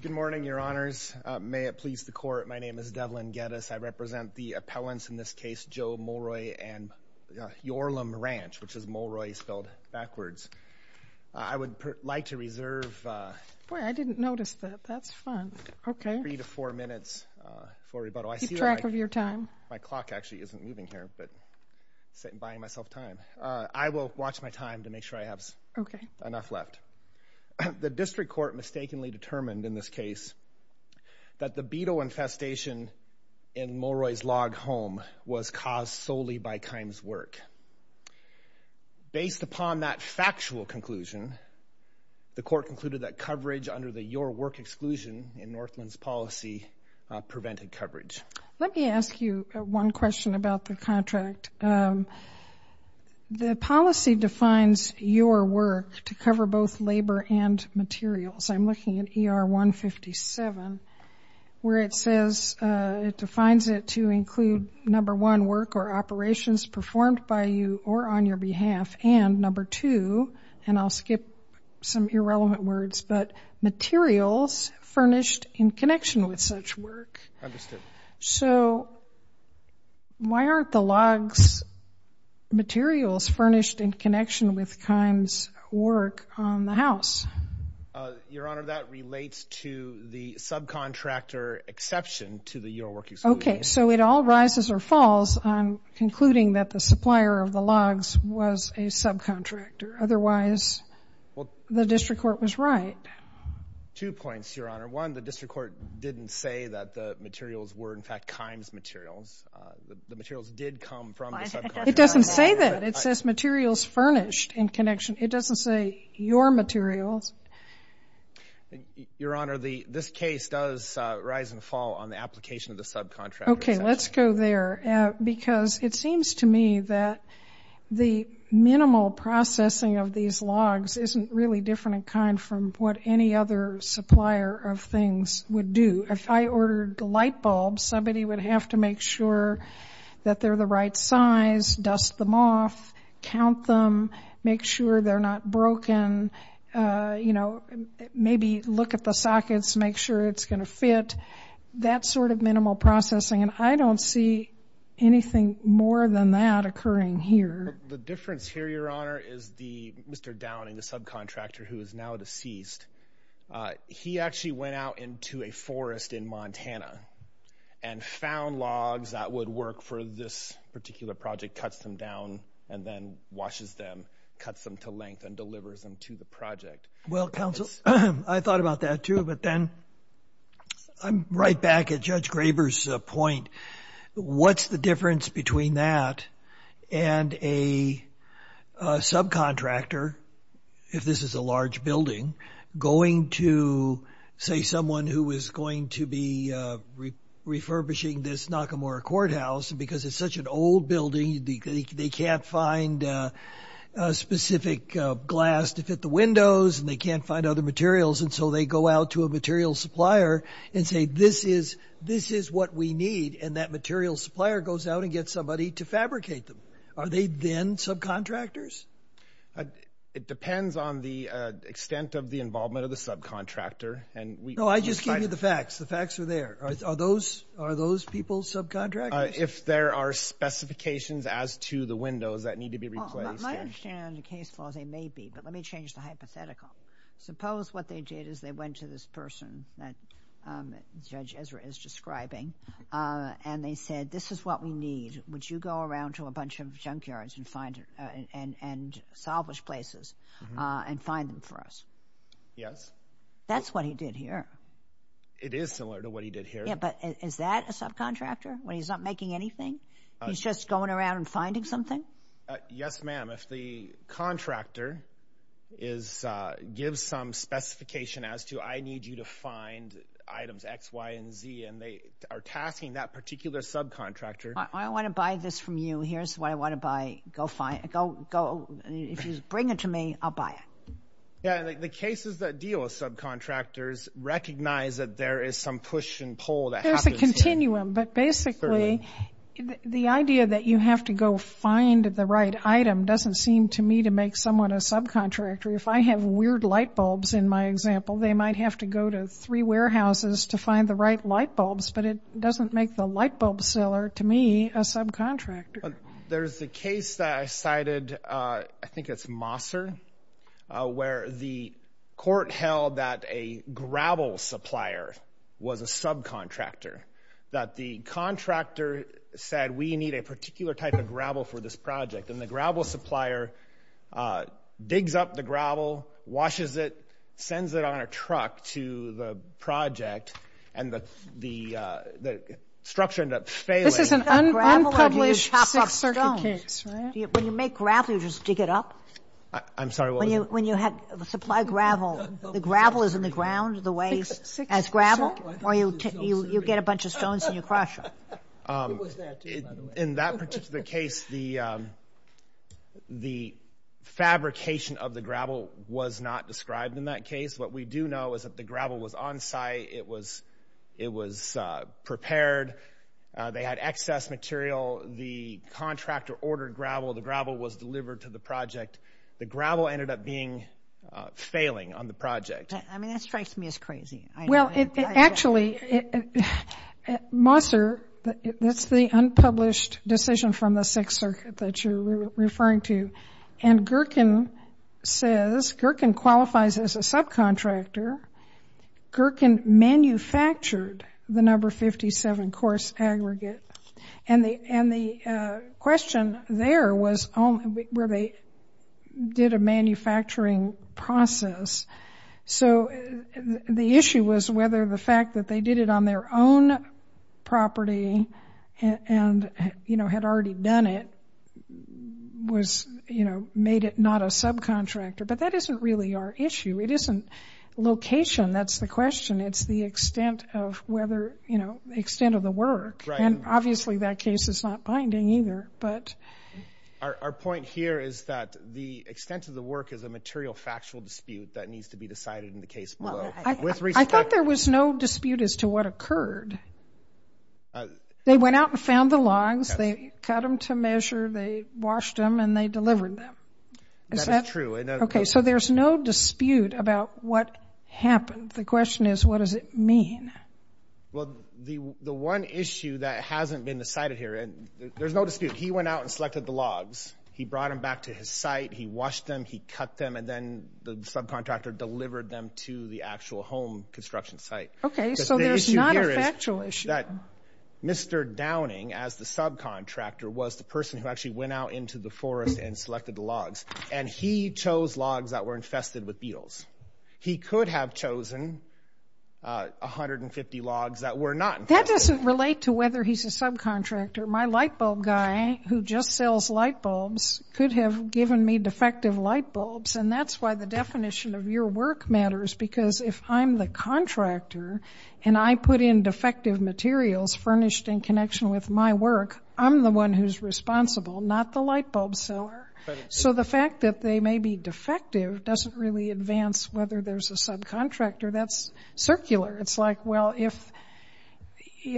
Good morning, Your Honors. May it please the Court, my name is Devlin Geddes. I represent the appellants in this case, Joe Mulroy and Yorlam Ranch, which is Mulroy spelled backwards. I would like to reserve three to four minutes for rebuttal. I see that my clock actually isn't moving here, but I'm buying myself time. I will watch my time to make sure I have enough left. The District Court mistakenly determined in this case that the beetle infestation in Mulroy's log home was caused solely by Kimes' work. Based upon that factual conclusion, the Court concluded that coverage under the Your Work exclusion in Northland's policy prevented coverage. Let me ask you one question about the contract. The policy defines Your Work to cover both labor and materials. I'm looking at ER 157, where it says it defines it to include, number one, work or operations performed by you or on your behalf, and number two, and I'll skip some irrelevant words, but materials furnished in connection with such work. Understood. So why aren't the logs materials furnished in connection with Kimes' work on the house? Your Honor, that relates to the subcontractor exception to the Your Work exclusion. Okay, so it all rises or falls on concluding that the supplier of the logs was a subcontractor. Otherwise, the District Court was right. Two points, Your Honor. One, the District Court didn't say that the materials were, in fact, Kimes' materials. The materials did come from the subcontractor. It doesn't say that. It says materials furnished in connection. It doesn't say your materials. Your Honor, this case does rise and fall on the application of the subcontractor exception. Okay, let's go there, because it seems to me that the minimal processing of these logs isn't really different in kind from what any other supplier of things would do. If I ordered light bulbs, somebody would have to make sure that they're the right size, dust them off, count them, make sure they're not broken, you know, maybe look at the sockets, make sure it's going to fit, that sort of minimal processing. And I don't see anything more than that occurring here. The difference here, Your Honor, is Mr. Downing, the subcontractor who is now deceased, he actually went out into a forest in Montana and found logs that would work for this particular project, cuts them down, and then washes them, cuts them to length, and delivers them to the project. Well, counsel, I thought about that, too, but then I'm right back at Judge Graber's point. What's the difference between that and a subcontractor, if this is a large building, going to, say, someone who is going to be refurbishing this Nakamura Courthouse, and because it's such an old building, they can't find specific glass to fit the windows, and they can't find other materials, and so they go out to a materials supplier and say, this is what we need, and that materials supplier goes out and gets somebody to fabricate them. Are they then subcontractors? It depends on the extent of the involvement of the subcontractor. No, I just gave you the facts. The facts are there. Are those people subcontractors? If there are specifications as to the windows that need to be replaced. My understanding on the case floor is they may be, but let me change the hypothetical. Suppose what they did is they went to this person that Judge Ezra is describing, and they said, this is what we need. Would you go around to a bunch of junkyards and salvage places and find them for us? Yes. That's what he did here. It is similar to what he did here. But is that a subcontractor when he's not making anything? He's just going around and finding something? Yes, ma'am. If the contractor gives some specification as to, I need you to find items X, Y, and Z, and they are tasking that particular subcontractor. I want to buy this from you. Here's what I want to buy. If you bring it to me, I'll buy it. The cases that deal with subcontractors recognize that there is some push and pull. There's a continuum, but basically the idea that you have to go find the right item doesn't seem to me to make someone a subcontractor. If I have weird light bulbs in my example, they might have to go to three warehouses to find the right light bulbs, but it doesn't make the light bulb seller to me a subcontractor. There's a case that I cited, I think it's Mosser, where the court held that a gravel supplier was a subcontractor, that the contractor said we need a particular type of gravel for this project, and the gravel supplier digs up the gravel, washes it, sends it on a truck to the project, and the structure ended up failing. This is an unpublished Sixth Circuit case. When you make gravel, you just dig it up? I'm sorry, what was it? When you supply gravel, the gravel is in the ground the way as gravel, or you get a bunch of stones and you crush them? In that particular case, the fabrication of the gravel was not described in that case. What we do know is that the gravel was on site. It was prepared. They had excess material. The contractor ordered gravel. The gravel was delivered to the project. The gravel ended up being failing on the project. I mean, that strikes me as crazy. Well, actually, Mosser, that's the unpublished decision from the Sixth Circuit that you're referring to, and Gerken says, Gerken qualifies as a subcontractor. Gerken manufactured the number 57 coarse aggregate, and the question there was where they did a manufacturing process. So the issue was whether the fact that they did it on their own property and had already done it made it not a subcontractor, but that isn't really our issue. It isn't location, that's the question. It's the extent of whether, you know, the extent of the work, and obviously that case is not binding either. Our point here is that the extent of the work is a material factual dispute that needs to be decided in the case below. I thought there was no dispute as to what occurred. They went out and found the logs. They cut them to measure. They washed them, and they delivered them. That is true. Okay, so there's no dispute about what happened. The question is what does it mean? Well, the one issue that hasn't been decided here, and there's no dispute. He went out and selected the logs. He brought them back to his site. He washed them. He cut them, and then the subcontractor delivered them to the actual home construction site. Okay, so there's not a factual issue. Mr. Downing, as the subcontractor, was the person who actually went out into the forest and selected the logs, and he chose logs that were infested with beetles. He could have chosen 150 logs that were not infested. That doesn't relate to whether he's a subcontractor. My lightbulb guy who just sells lightbulbs could have given me defective lightbulbs, and that's why the definition of your work matters, because if I'm the contractor and I put in defective materials furnished in connection with my work, I'm the one who's responsible, not the lightbulb seller. So the fact that they may be defective doesn't really advance whether there's a subcontractor. That's circular. It's like, well, if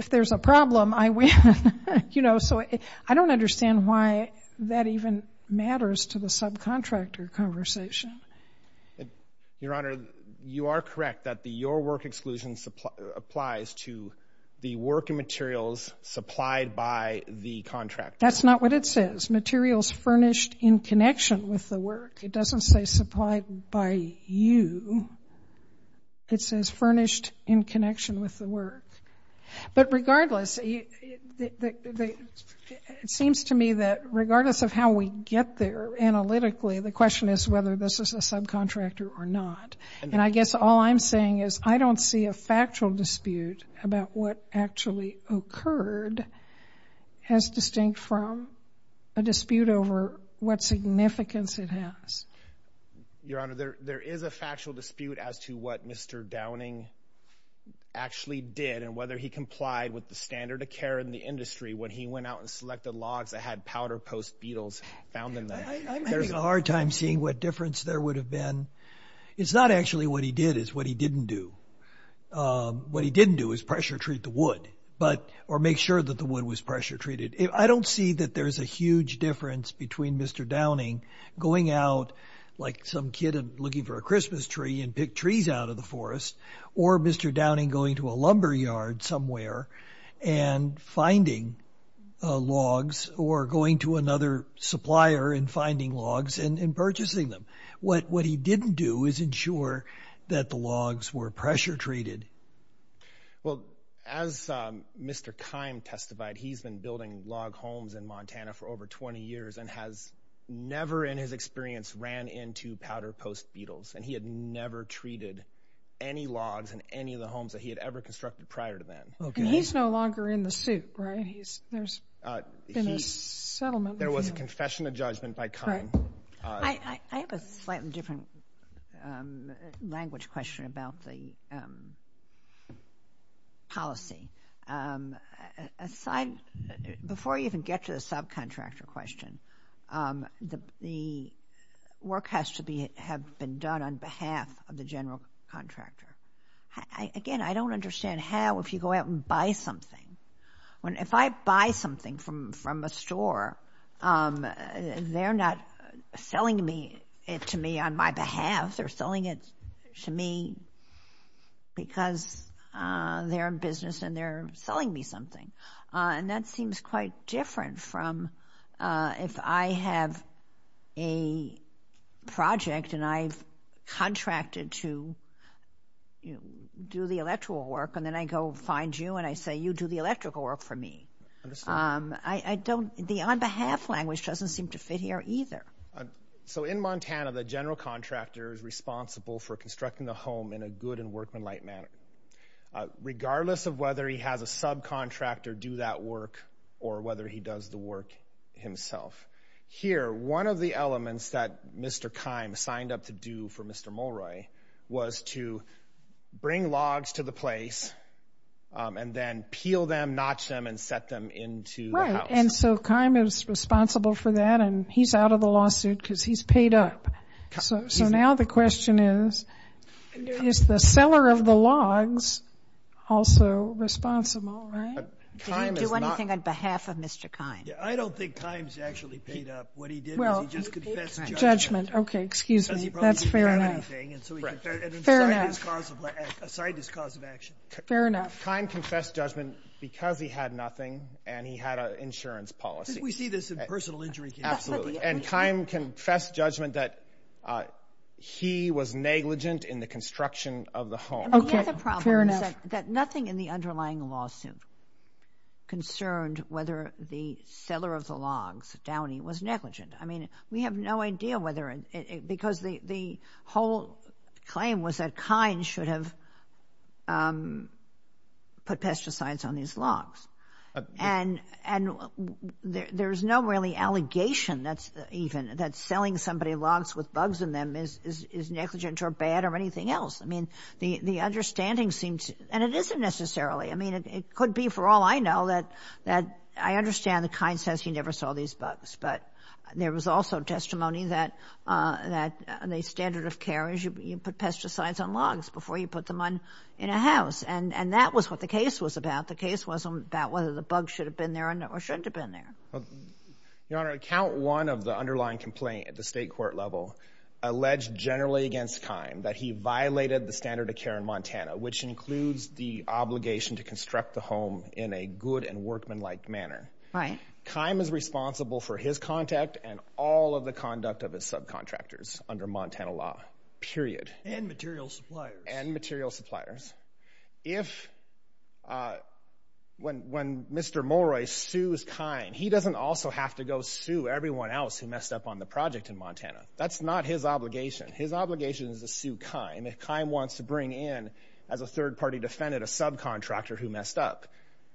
there's a problem, I win. You know, so I don't understand why that even matters to the subcontractor conversation. Your Honor, you are correct that the your work exclusion applies to the work materials supplied by the contractor. That's not what it says. It says materials furnished in connection with the work. It doesn't say supplied by you. It says furnished in connection with the work. But regardless, it seems to me that regardless of how we get there analytically, the question is whether this is a subcontractor or not. And I guess all I'm saying is I don't see a factual dispute about what actually occurred as distinct from a dispute over what significance it has. Your Honor, there is a factual dispute as to what Mr. Downing actually did and whether he complied with the standard of care in the industry when he went out and selected logs that had powder post beetles found in them. I'm having a hard time seeing what difference there would have been. It's not actually what he did. It's what he didn't do. What he didn't do was pressure treat the wood or make sure that the wood was pressure treated. I don't see that there's a huge difference between Mr. Downing going out like some kid looking for a Christmas tree and pick trees out of the forest or Mr. Downing going to a lumber yard somewhere and finding logs or going to another supplier and finding logs and purchasing them. What he didn't do is ensure that the logs were pressure treated. Well, as Mr. Kime testified, he's been building log homes in Montana for over 20 years and has never in his experience ran into powder post beetles. And he had never treated any logs in any of the homes that he had ever constructed prior to then. And he's no longer in the suit, right? There's been a settlement with him. There was a confession of judgment by Kime. I have a slightly different language question about the policy. Before you even get to the subcontractor question, the work has to have been done on behalf of the general contractor. Again, I don't understand how if you go out and buy something. If I buy something from a store, they're not selling it to me on my behalf. They're selling it to me because they're in business and they're selling me something. And that seems quite different from if I have a project and I've contracted to do the electoral work and then I go find you and I say, you do the electrical work for me. The on behalf language doesn't seem to fit here either. So in Montana, the general contractor is responsible for constructing the home in a good and workmanlike manner regardless of whether he has a subcontractor do that work or whether he does the work himself. Here, one of the elements that Mr. Kime signed up to do for Mr. Molroy was to bring logs to the place and then peel them, notch them, and set them into the house. Right. And so Kime is responsible for that, and he's out of the lawsuit because he's paid up. So now the question is, is the seller of the logs also responsible, right? Did he do anything on behalf of Mr. Kime? I don't think Kime's actually paid up. What he did was he just confessed judgment. Judgment. Okay, excuse me. That's fair enough. He probably didn't have anything, and so he confessed aside his cause of action. Fair enough. Kime confessed judgment because he had nothing and he had an insurance policy. We see this in personal injury cases. Absolutely. And Kime confessed judgment that he was negligent in the construction of the home. Okay. Fair enough. The other problem is that nothing in the underlying lawsuit concerned whether the seller of the logs, Downey, was negligent. I mean, we have no idea whether it—because the whole claim was that Kime should have put pesticides on these logs. And there's no really allegation even that selling somebody logs with bugs in them is negligent or bad or anything else. I mean, the understanding seems—and it isn't necessarily. I mean, it could be, for all I know, that I understand that Kime says he never saw these bugs. But there was also testimony that the standard of care is you put pesticides on logs before you put them in a house. And that was what the case was about. The case wasn't about whether the bugs should have been there or shouldn't have been there. Your Honor, account one of the underlying complaint at the state court level alleged generally against Kime that he violated the standard of care in Montana, which includes the obligation to construct the home in a good and workmanlike manner. Right. Kime is responsible for his contact and all of the conduct of his subcontractors under Montana law, period. And material suppliers. And material suppliers. If—when Mr. Molroy sues Kime, he doesn't also have to go sue everyone else who messed up on the project in Montana. That's not his obligation. His obligation is to sue Kime. If Kime wants to bring in, as a third-party defendant, a subcontractor who messed up,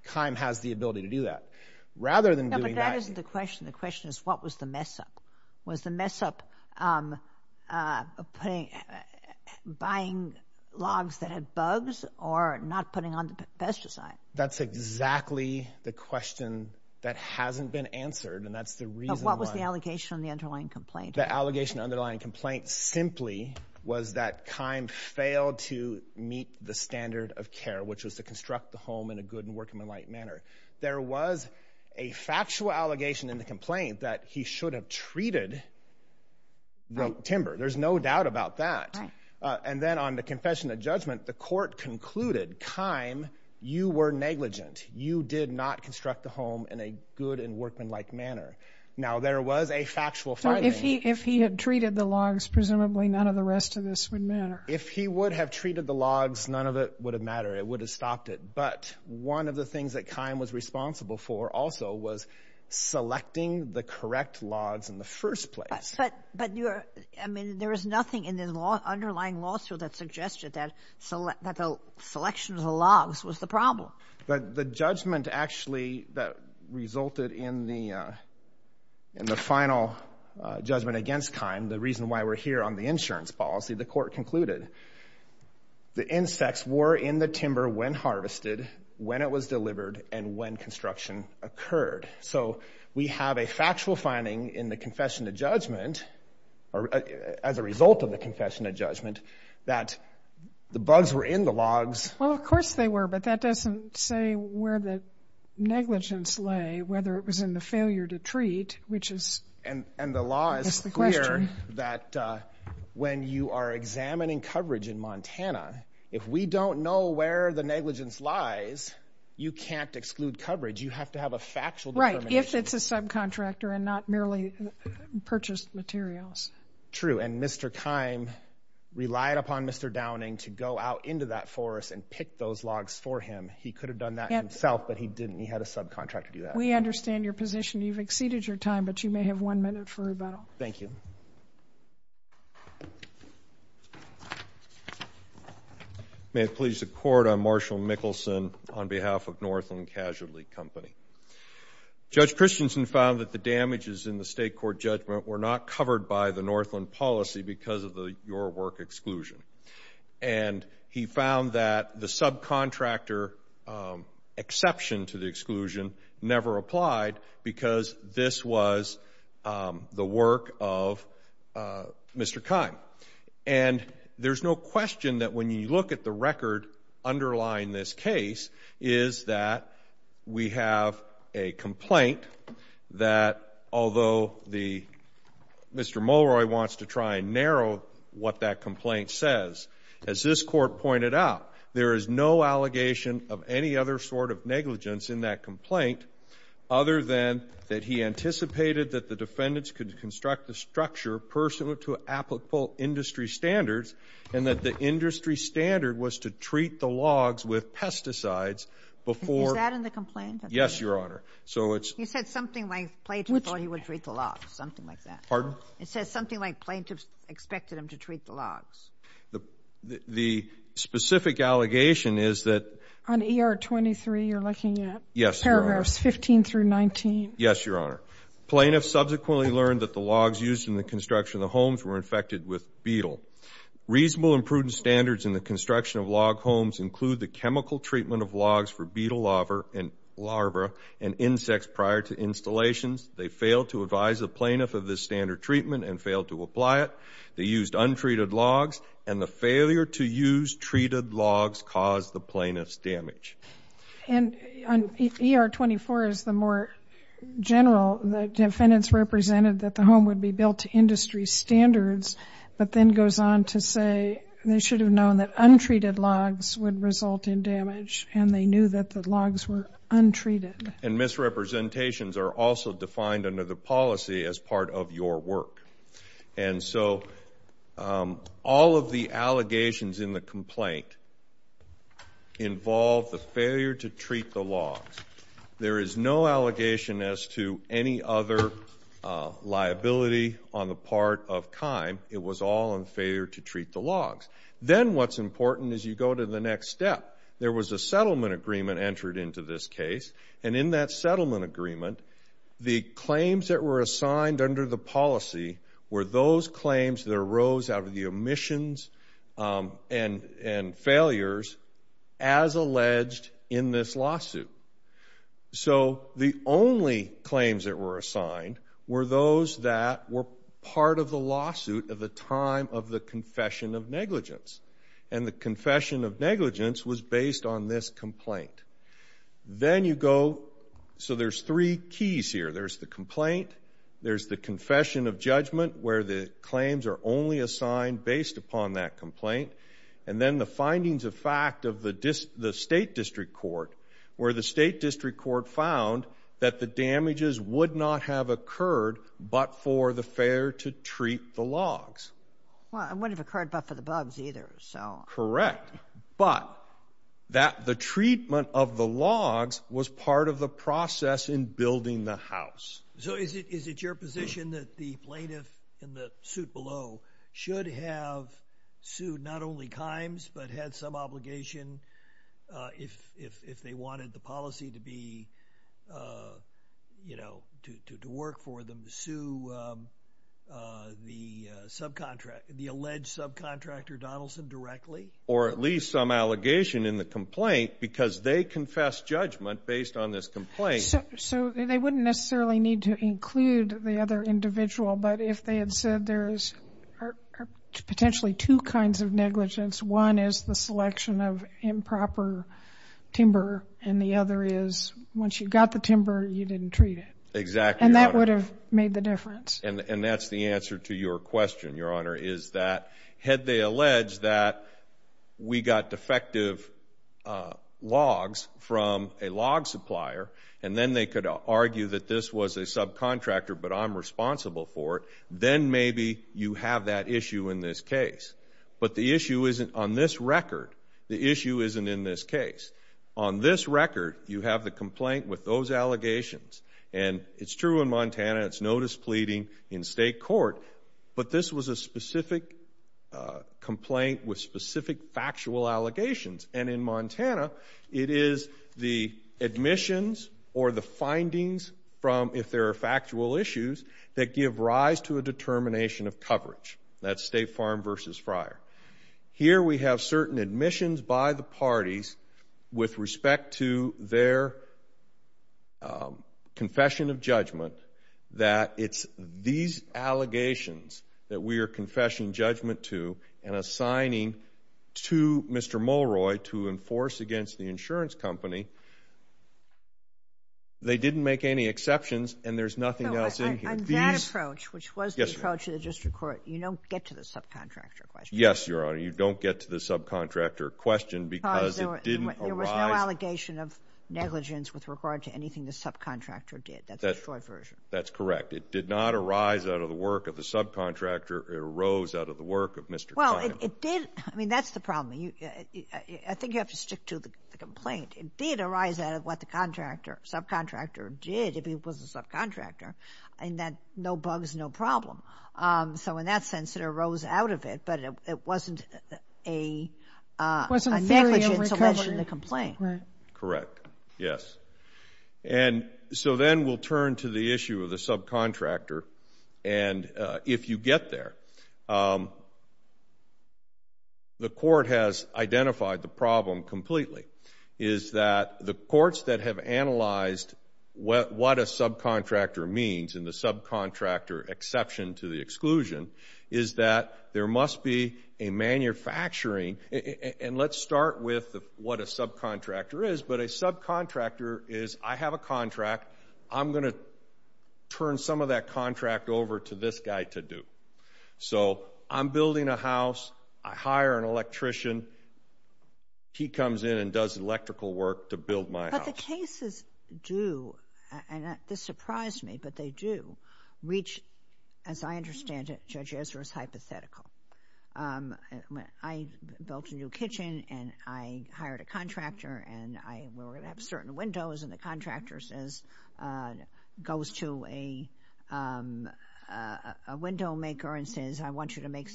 Kime has the ability to do that. Rather than doing that— No, but that isn't the question. The question is, what was the mess-up? Was the mess-up buying logs that had bugs or not putting on the pesticides? That's exactly the question that hasn't been answered, and that's the reason why— But what was the allegation in the underlying complaint? The allegation in the underlying complaint simply was that Kime failed to meet the standard of care, which was to construct the home in a good and workmanlike manner. There was a factual allegation in the complaint that he should have treated the timber. There's no doubt about that. Right. And then on the confession of judgment, the court concluded, Kime, you were negligent. You did not construct the home in a good and workmanlike manner. Now, there was a factual finding— So if he had treated the logs, presumably none of the rest of this would matter. If he would have treated the logs, none of it would have mattered. It would have stopped it. But one of the things that Kime was responsible for also was selecting the correct logs in the first place. But you're—I mean, there was nothing in the underlying lawsuit that suggested that the selection of the logs was the problem. But the judgment actually that resulted in the final judgment against Kime, the reason why we're here on the insurance policy, the court concluded, the insects were in the timber when harvested, when it was delivered, and when construction occurred. So we have a factual finding in the confession of judgment, as a result of the confession of judgment, that the bugs were in the logs. Well, of course they were, but that doesn't say where the negligence lay, whether it was in the failure to treat, which is— If we don't know where the negligence lies, you can't exclude coverage. You have to have a factual determination. Right, if it's a subcontractor and not merely purchased materials. True, and Mr. Kime relied upon Mr. Downing to go out into that forest and pick those logs for him. He could have done that himself, but he didn't. He had a subcontractor do that. We understand your position. You've exceeded your time, but you may have one minute for rebuttal. Thank you. May it please the Court, I'm Marshall Mickelson on behalf of Northland Casualty Company. Judge Christensen found that the damages in the state court judgment were not covered by the Northland policy because of the your work exclusion. And he found that the subcontractor exception to the exclusion never applied because this was the work of Mr. Kime. And there's no question that when you look at the record underlying this case is that we have a complaint that although the— Mr. Mulroy wants to try and narrow what that complaint says. As this Court pointed out, there is no allegation of any other sort of negligence in that complaint other than that he anticipated that the defendants could construct the structure pursuant to applicable industry standards and that the industry standard was to treat the logs with pesticides before— Is that in the complaint? Yes, Your Honor. So it's— He said something like plaintiffs thought he would treat the logs, something like that. Pardon? He said something like plaintiffs expected him to treat the logs. The specific allegation is that— On ER 23, you're looking at paragraphs 15 through 19. Yes, Your Honor. Plaintiffs subsequently learned that the logs used in the construction of the homes were infected with beetle. Reasonable and prudent standards in the construction of log homes include the chemical treatment of logs for beetle larva and insects prior to installations. They failed to advise the plaintiff of this standard treatment and failed to apply it. They used untreated logs, and the failure to use treated logs caused the plaintiff's damage. And on ER 24 is the more general. The defendants represented that the home would be built to industry standards but then goes on to say they should have known that untreated logs would result in damage, and they knew that the logs were untreated. And misrepresentations are also defined under the policy as part of your work. And so all of the allegations in the complaint involve the failure to treat the logs. There is no allegation as to any other liability on the part of CHIME. It was all in failure to treat the logs. Then what's important is you go to the next step. There was a settlement agreement entered into this case, and in that settlement agreement, the claims that were assigned under the policy were those claims that arose out of the omissions and failures as alleged in this lawsuit. So the only claims that were assigned were those that were part of the lawsuit at the time of the confession of negligence, and the confession of negligence was based on this complaint. Then you go, so there's three keys here. There's the complaint, there's the confession of judgment, where the claims are only assigned based upon that complaint, and then the findings of fact of the state district court, where the state district court found that the damages would not have occurred but for the failure to treat the logs. Well, it wouldn't have occurred but for the bugs either, so... was part of the process in building the house. So is it your position that the plaintiff in the suit below should have sued not only CHIME, but had some obligation if they wanted the policy to be, you know, to work for them, to sue the alleged subcontractor Donaldson directly? Or at least some allegation in the complaint because they confessed judgment based on this complaint. So they wouldn't necessarily need to include the other individual, but if they had said there's potentially two kinds of negligence, one is the selection of improper timber and the other is once you got the timber, you didn't treat it. Exactly, Your Honor. And that would have made the difference. And that's the answer to your question, Your Honor, is that had they alleged that we got defective logs from a log supplier and then they could argue that this was a subcontractor but I'm responsible for it, then maybe you have that issue in this case. But the issue isn't on this record. The issue isn't in this case. On this record, you have the complaint with those allegations, and it's true in Montana, it's notice pleading in state court, but this was a specific complaint with specific factual allegations. And in Montana, it is the admissions or the findings from if there are factual issues that give rise to a determination of coverage. That's State Farm versus Fryer. Here we have certain admissions by the parties with respect to their confession of judgment that it's these allegations that we are confessing judgment to and assigning to Mr. Mulroy to enforce against the insurance company. They didn't make any exceptions, and there's nothing else in here. On that approach, which was the approach of the district court, you don't get to the subcontractor question. Yes, Your Honor, you don't get to the subcontractor question because it didn't arise. There was no allegation of negligence with regard to anything the subcontractor did. That's the Detroit version. That's correct. It did not arise out of the work of the subcontractor. It arose out of the work of Mr. Kline. Well, it did. I mean, that's the problem. I think you have to stick to the complaint. It did arise out of what the subcontractor did, if he was a subcontractor, and that no bugs, no problem. So in that sense, it arose out of it, but it wasn't a negligent solution to the complaint. Correct, yes. And so then we'll turn to the issue of the subcontractor. And if you get there, the court has identified the problem completely, is that the courts that have analyzed what a subcontractor means and the subcontractor exception to the exclusion is that there must be a manufacturing And let's start with what a subcontractor is. But a subcontractor is, I have a contract. I'm going to turn some of that contract over to this guy to do. So I'm building a house. I hire an electrician. He comes in and does electrical work to build my house. But the cases do, and this surprised me, but they do reach, as I understand it, Judge Ezra's hypothetical. I built a new kitchen, and I hired a contractor, and we were going to have certain windows, and the contractor goes to a window maker and says, I want you to make,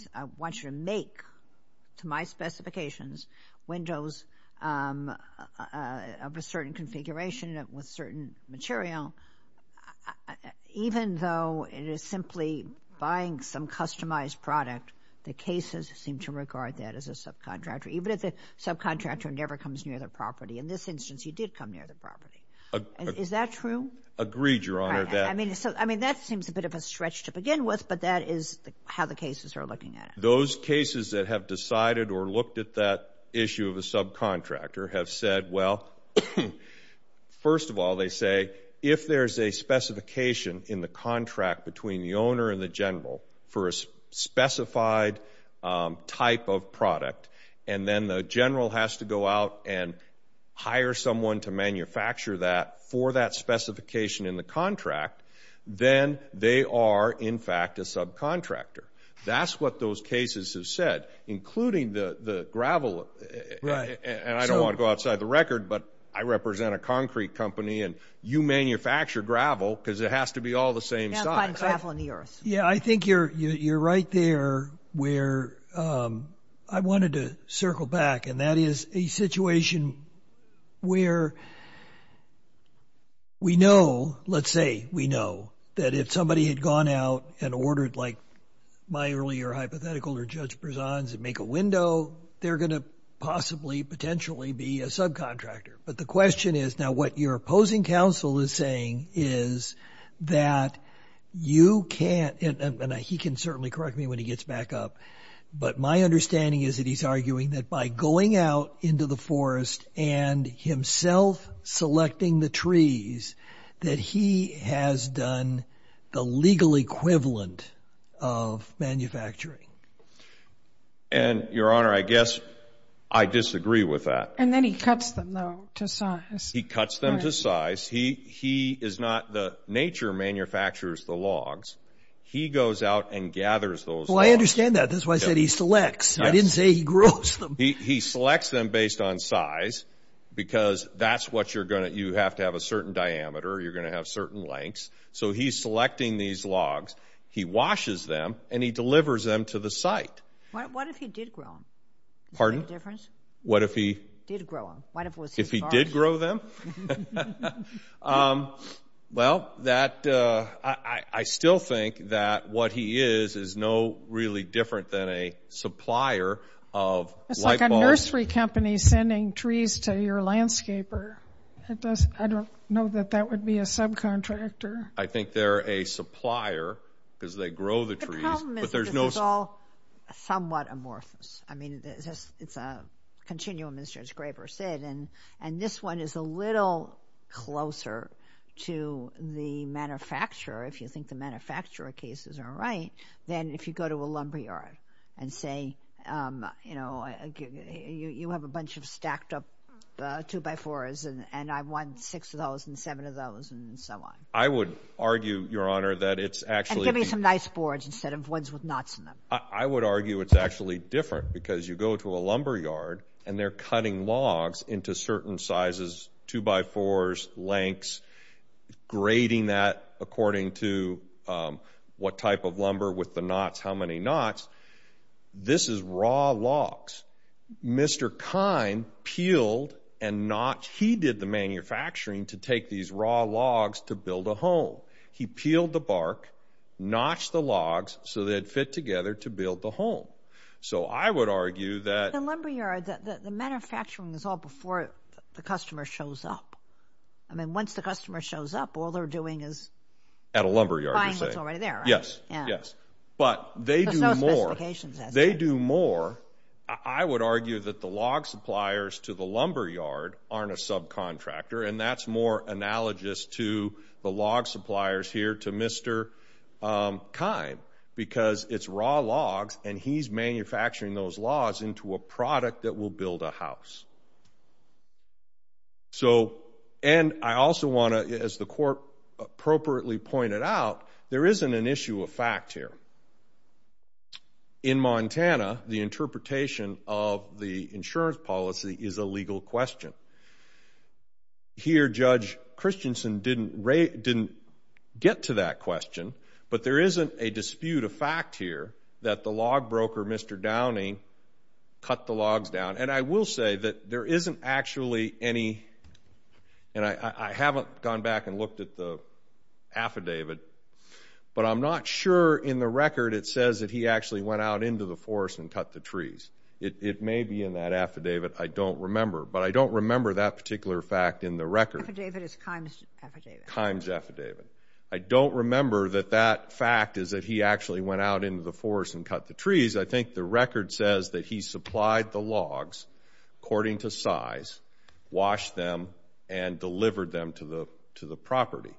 to my specifications, windows of a certain configuration with certain material. Even though it is simply buying some customized product, the cases seem to regard that as a subcontractor, even if the subcontractor never comes near the property. In this instance, he did come near the property. Is that true? Agreed, Your Honor. I mean, that seems a bit of a stretch to begin with, but that is how the cases are looking at it. Those cases that have decided or looked at that issue of a subcontractor have said, well, first of all, they say, if there's a specification in the contract between the owner and the general for a specified type of product, and then the general has to go out and hire someone to manufacture that for that specification in the contract, then they are, in fact, a subcontractor. That's what those cases have said, including the gravel, and I don't want to go outside the record, but I represent a concrete company, and you manufacture gravel because it has to be all the same size. Yeah, I think you're right there where I wanted to circle back, and that is a situation where we know, let's say we know, that if somebody had gone out and ordered like my earlier hypothetical or Judge Berzon's and make a window, they're going to possibly, potentially be a subcontractor. But the question is, now what your opposing counsel is saying is that you can't, and he can certainly correct me when he gets back up, but my understanding is that he's arguing that by going out into the forest and himself selecting the trees that he has done the legal equivalent of manufacturing. And, Your Honor, I guess I disagree with that. And then he cuts them, though, to size. He cuts them to size. He is not the nature manufacturers the logs. He goes out and gathers those logs. Well, I understand that. That's why I said he selects. I didn't say he grows them. He selects them based on size because that's what you're going to do. You have to have a certain diameter. You're going to have certain lengths. So he's selecting these logs. He washes them, and he delivers them to the site. What if he did grow them? Pardon? What if he did grow them? If he did grow them? Well, I still think that what he is is no really different than a supplier of light bulbs. It's like a nursery company sending trees to your landscaper. I don't know that that would be a subcontractor. I think they're a supplier because they grow the trees. The problem is this is all somewhat amorphous. I mean, it's a continuum, as Judge Graber said, and this one is a little closer to the manufacturer, if you think the manufacturer cases are right, than if you go to a lumberyard and say, you know, you have a bunch of stacked up 2x4s, and I want $6 and $7 and so on. I would argue, Your Honor, that it's actually... And give me some nice boards instead of ones with knots in them. I would argue it's actually different because you go to a lumberyard and they're cutting logs into certain sizes, 2x4s, lengths, grading that according to what type of lumber with the knots, how many knots. This is raw logs. Mr. Kine peeled and notched... He did the manufacturing to take these raw logs to build a home. He peeled the bark, notched the logs so they'd fit together to build the home. So I would argue that... The lumberyard, the manufacturing is all before the customer shows up. I mean, once the customer shows up, all they're doing is... At a lumberyard, you're saying. Buying what's already there, right? Yes, yes. But they do more. There's no specifications as to. They do more. I would argue that the log suppliers to the lumberyard aren't a subcontractor, and that's more analogous to the log suppliers here to Mr. Kine because it's raw logs and he's manufacturing those logs into a product that will build a house. And I also want to, as the court appropriately pointed out, there isn't an issue of fact here. In Montana, the interpretation of the insurance policy is a legal question. Here, Judge Christensen didn't get to that question, but there isn't a dispute of fact here that the log broker, Mr. Downing, cut the logs down. And I will say that there isn't actually any... And I haven't gone back and looked at the affidavit, but I'm not sure in the record it says that he actually went out into the forest and cut the trees. It may be in that affidavit. I don't remember, but I don't remember that particular fact in the record. Affidavit is Kine's affidavit. Kine's affidavit. I don't remember that that fact is that he actually went out into the forest and cut the trees. I think the record says that he supplied the logs according to size, washed them, and delivered them to the property.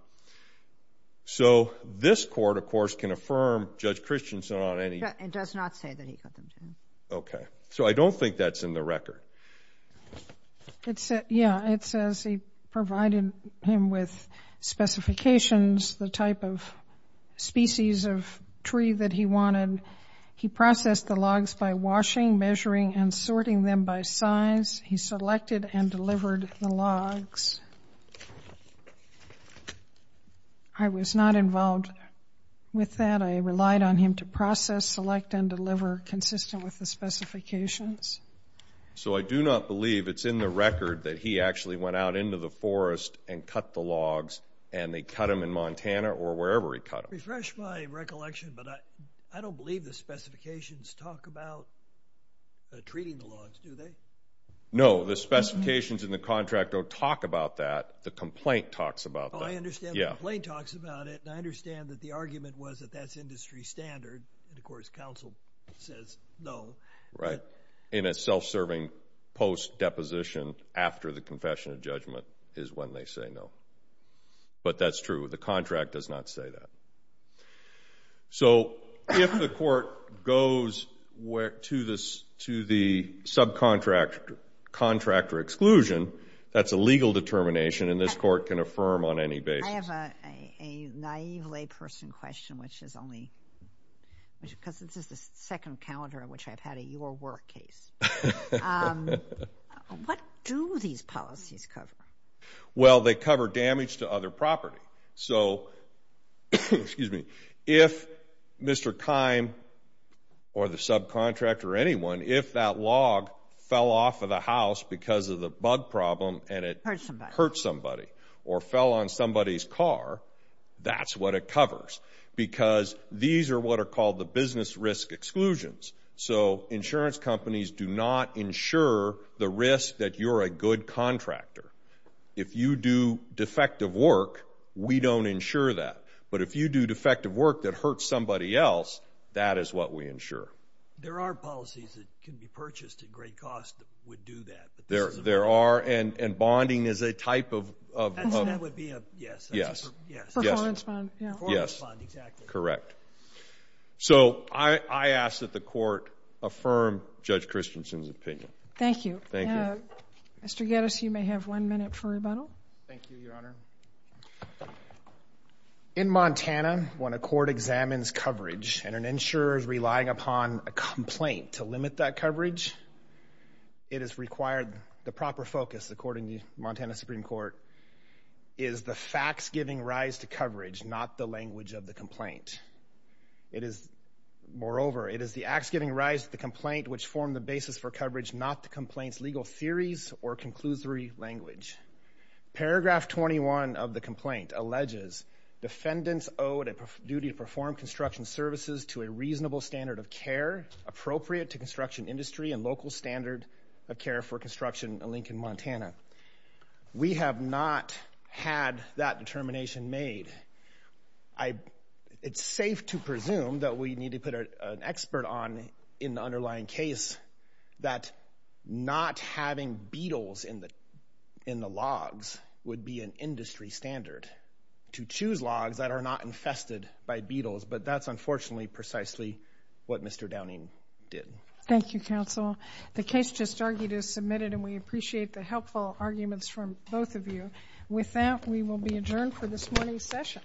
So this court, of course, can affirm Judge Christensen on any... It does not say that he cut them down. Okay. So I don't think that's in the record. Yeah. It says he provided him with specifications, the type of species of tree that he wanted. He processed the logs by washing, measuring, and sorting them by size. He selected and delivered the logs. I was not involved with that. I relied on him to process, select, and deliver consistent with the specifications. So I do not believe it's in the record that he actually went out into the forest and cut the logs, and they cut them in Montana or wherever he cut them. To refresh my recollection, but I don't believe the specifications talk about treating the logs, do they? No. The specifications in the contract don't talk about that. The complaint talks about that. Oh, I understand. The complaint talks about it, and I understand that the argument was that that's industry standard. And, of course, counsel says no. Right. In a self-serving post-deposition after the confession of judgment is when they say no. But that's true. The contract does not say that. So if the court goes to the subcontractor exclusion, that's a legal determination, and this court can affirm on any basis. I have a naive layperson question, which is only because this is the second calendar in which I've had a your work case. What do these policies cover? Well, they cover damage to other property. So if Mr. Keim or the subcontractor or anyone, if that log fell off of the house because of the bug problem and it hurt somebody or fell on somebody's car, that's what it covers because these are what are called the business risk exclusions. So insurance companies do not insure the risk that you're a good contractor. If you do defective work, we don't insure that. But if you do defective work that hurts somebody else, that is what we insure. There are policies that can be purchased at great cost that would do that. There are, and bonding is a type of – That would be a – yes. Yes. Performance bond. Yes. Performance bond, exactly. Correct. So I ask that the court affirm Judge Christensen's opinion. Thank you. Thank you. Mr. Gettis, you may have one minute for rebuttal. Thank you, Your Honor. In Montana, when a court examines coverage and an insurer is relying upon a complaint to limit that coverage, it is required the proper focus, according to the Montana Supreme Court, is the facts giving rise to coverage, not the language of the complaint. Moreover, it is the acts giving rise to the complaint which form the basis for coverage, not the complaint's legal theories or conclusory language. Paragraph 21 of the complaint alleges defendants owed a duty to perform construction services to a reasonable standard of care appropriate to construction industry and local standard of care for construction in Lincoln, Montana. We have not had that determination made. It's safe to presume that we need to put an expert on in the underlying case that not having beetles in the logs would be an industry standard to choose logs that are not infested by beetles. But that's unfortunately precisely what Mr. Downing did. Thank you, counsel. The case just argued is submitted, and we appreciate the helpful arguments from both of you. With that, we will be adjourned for this morning's session.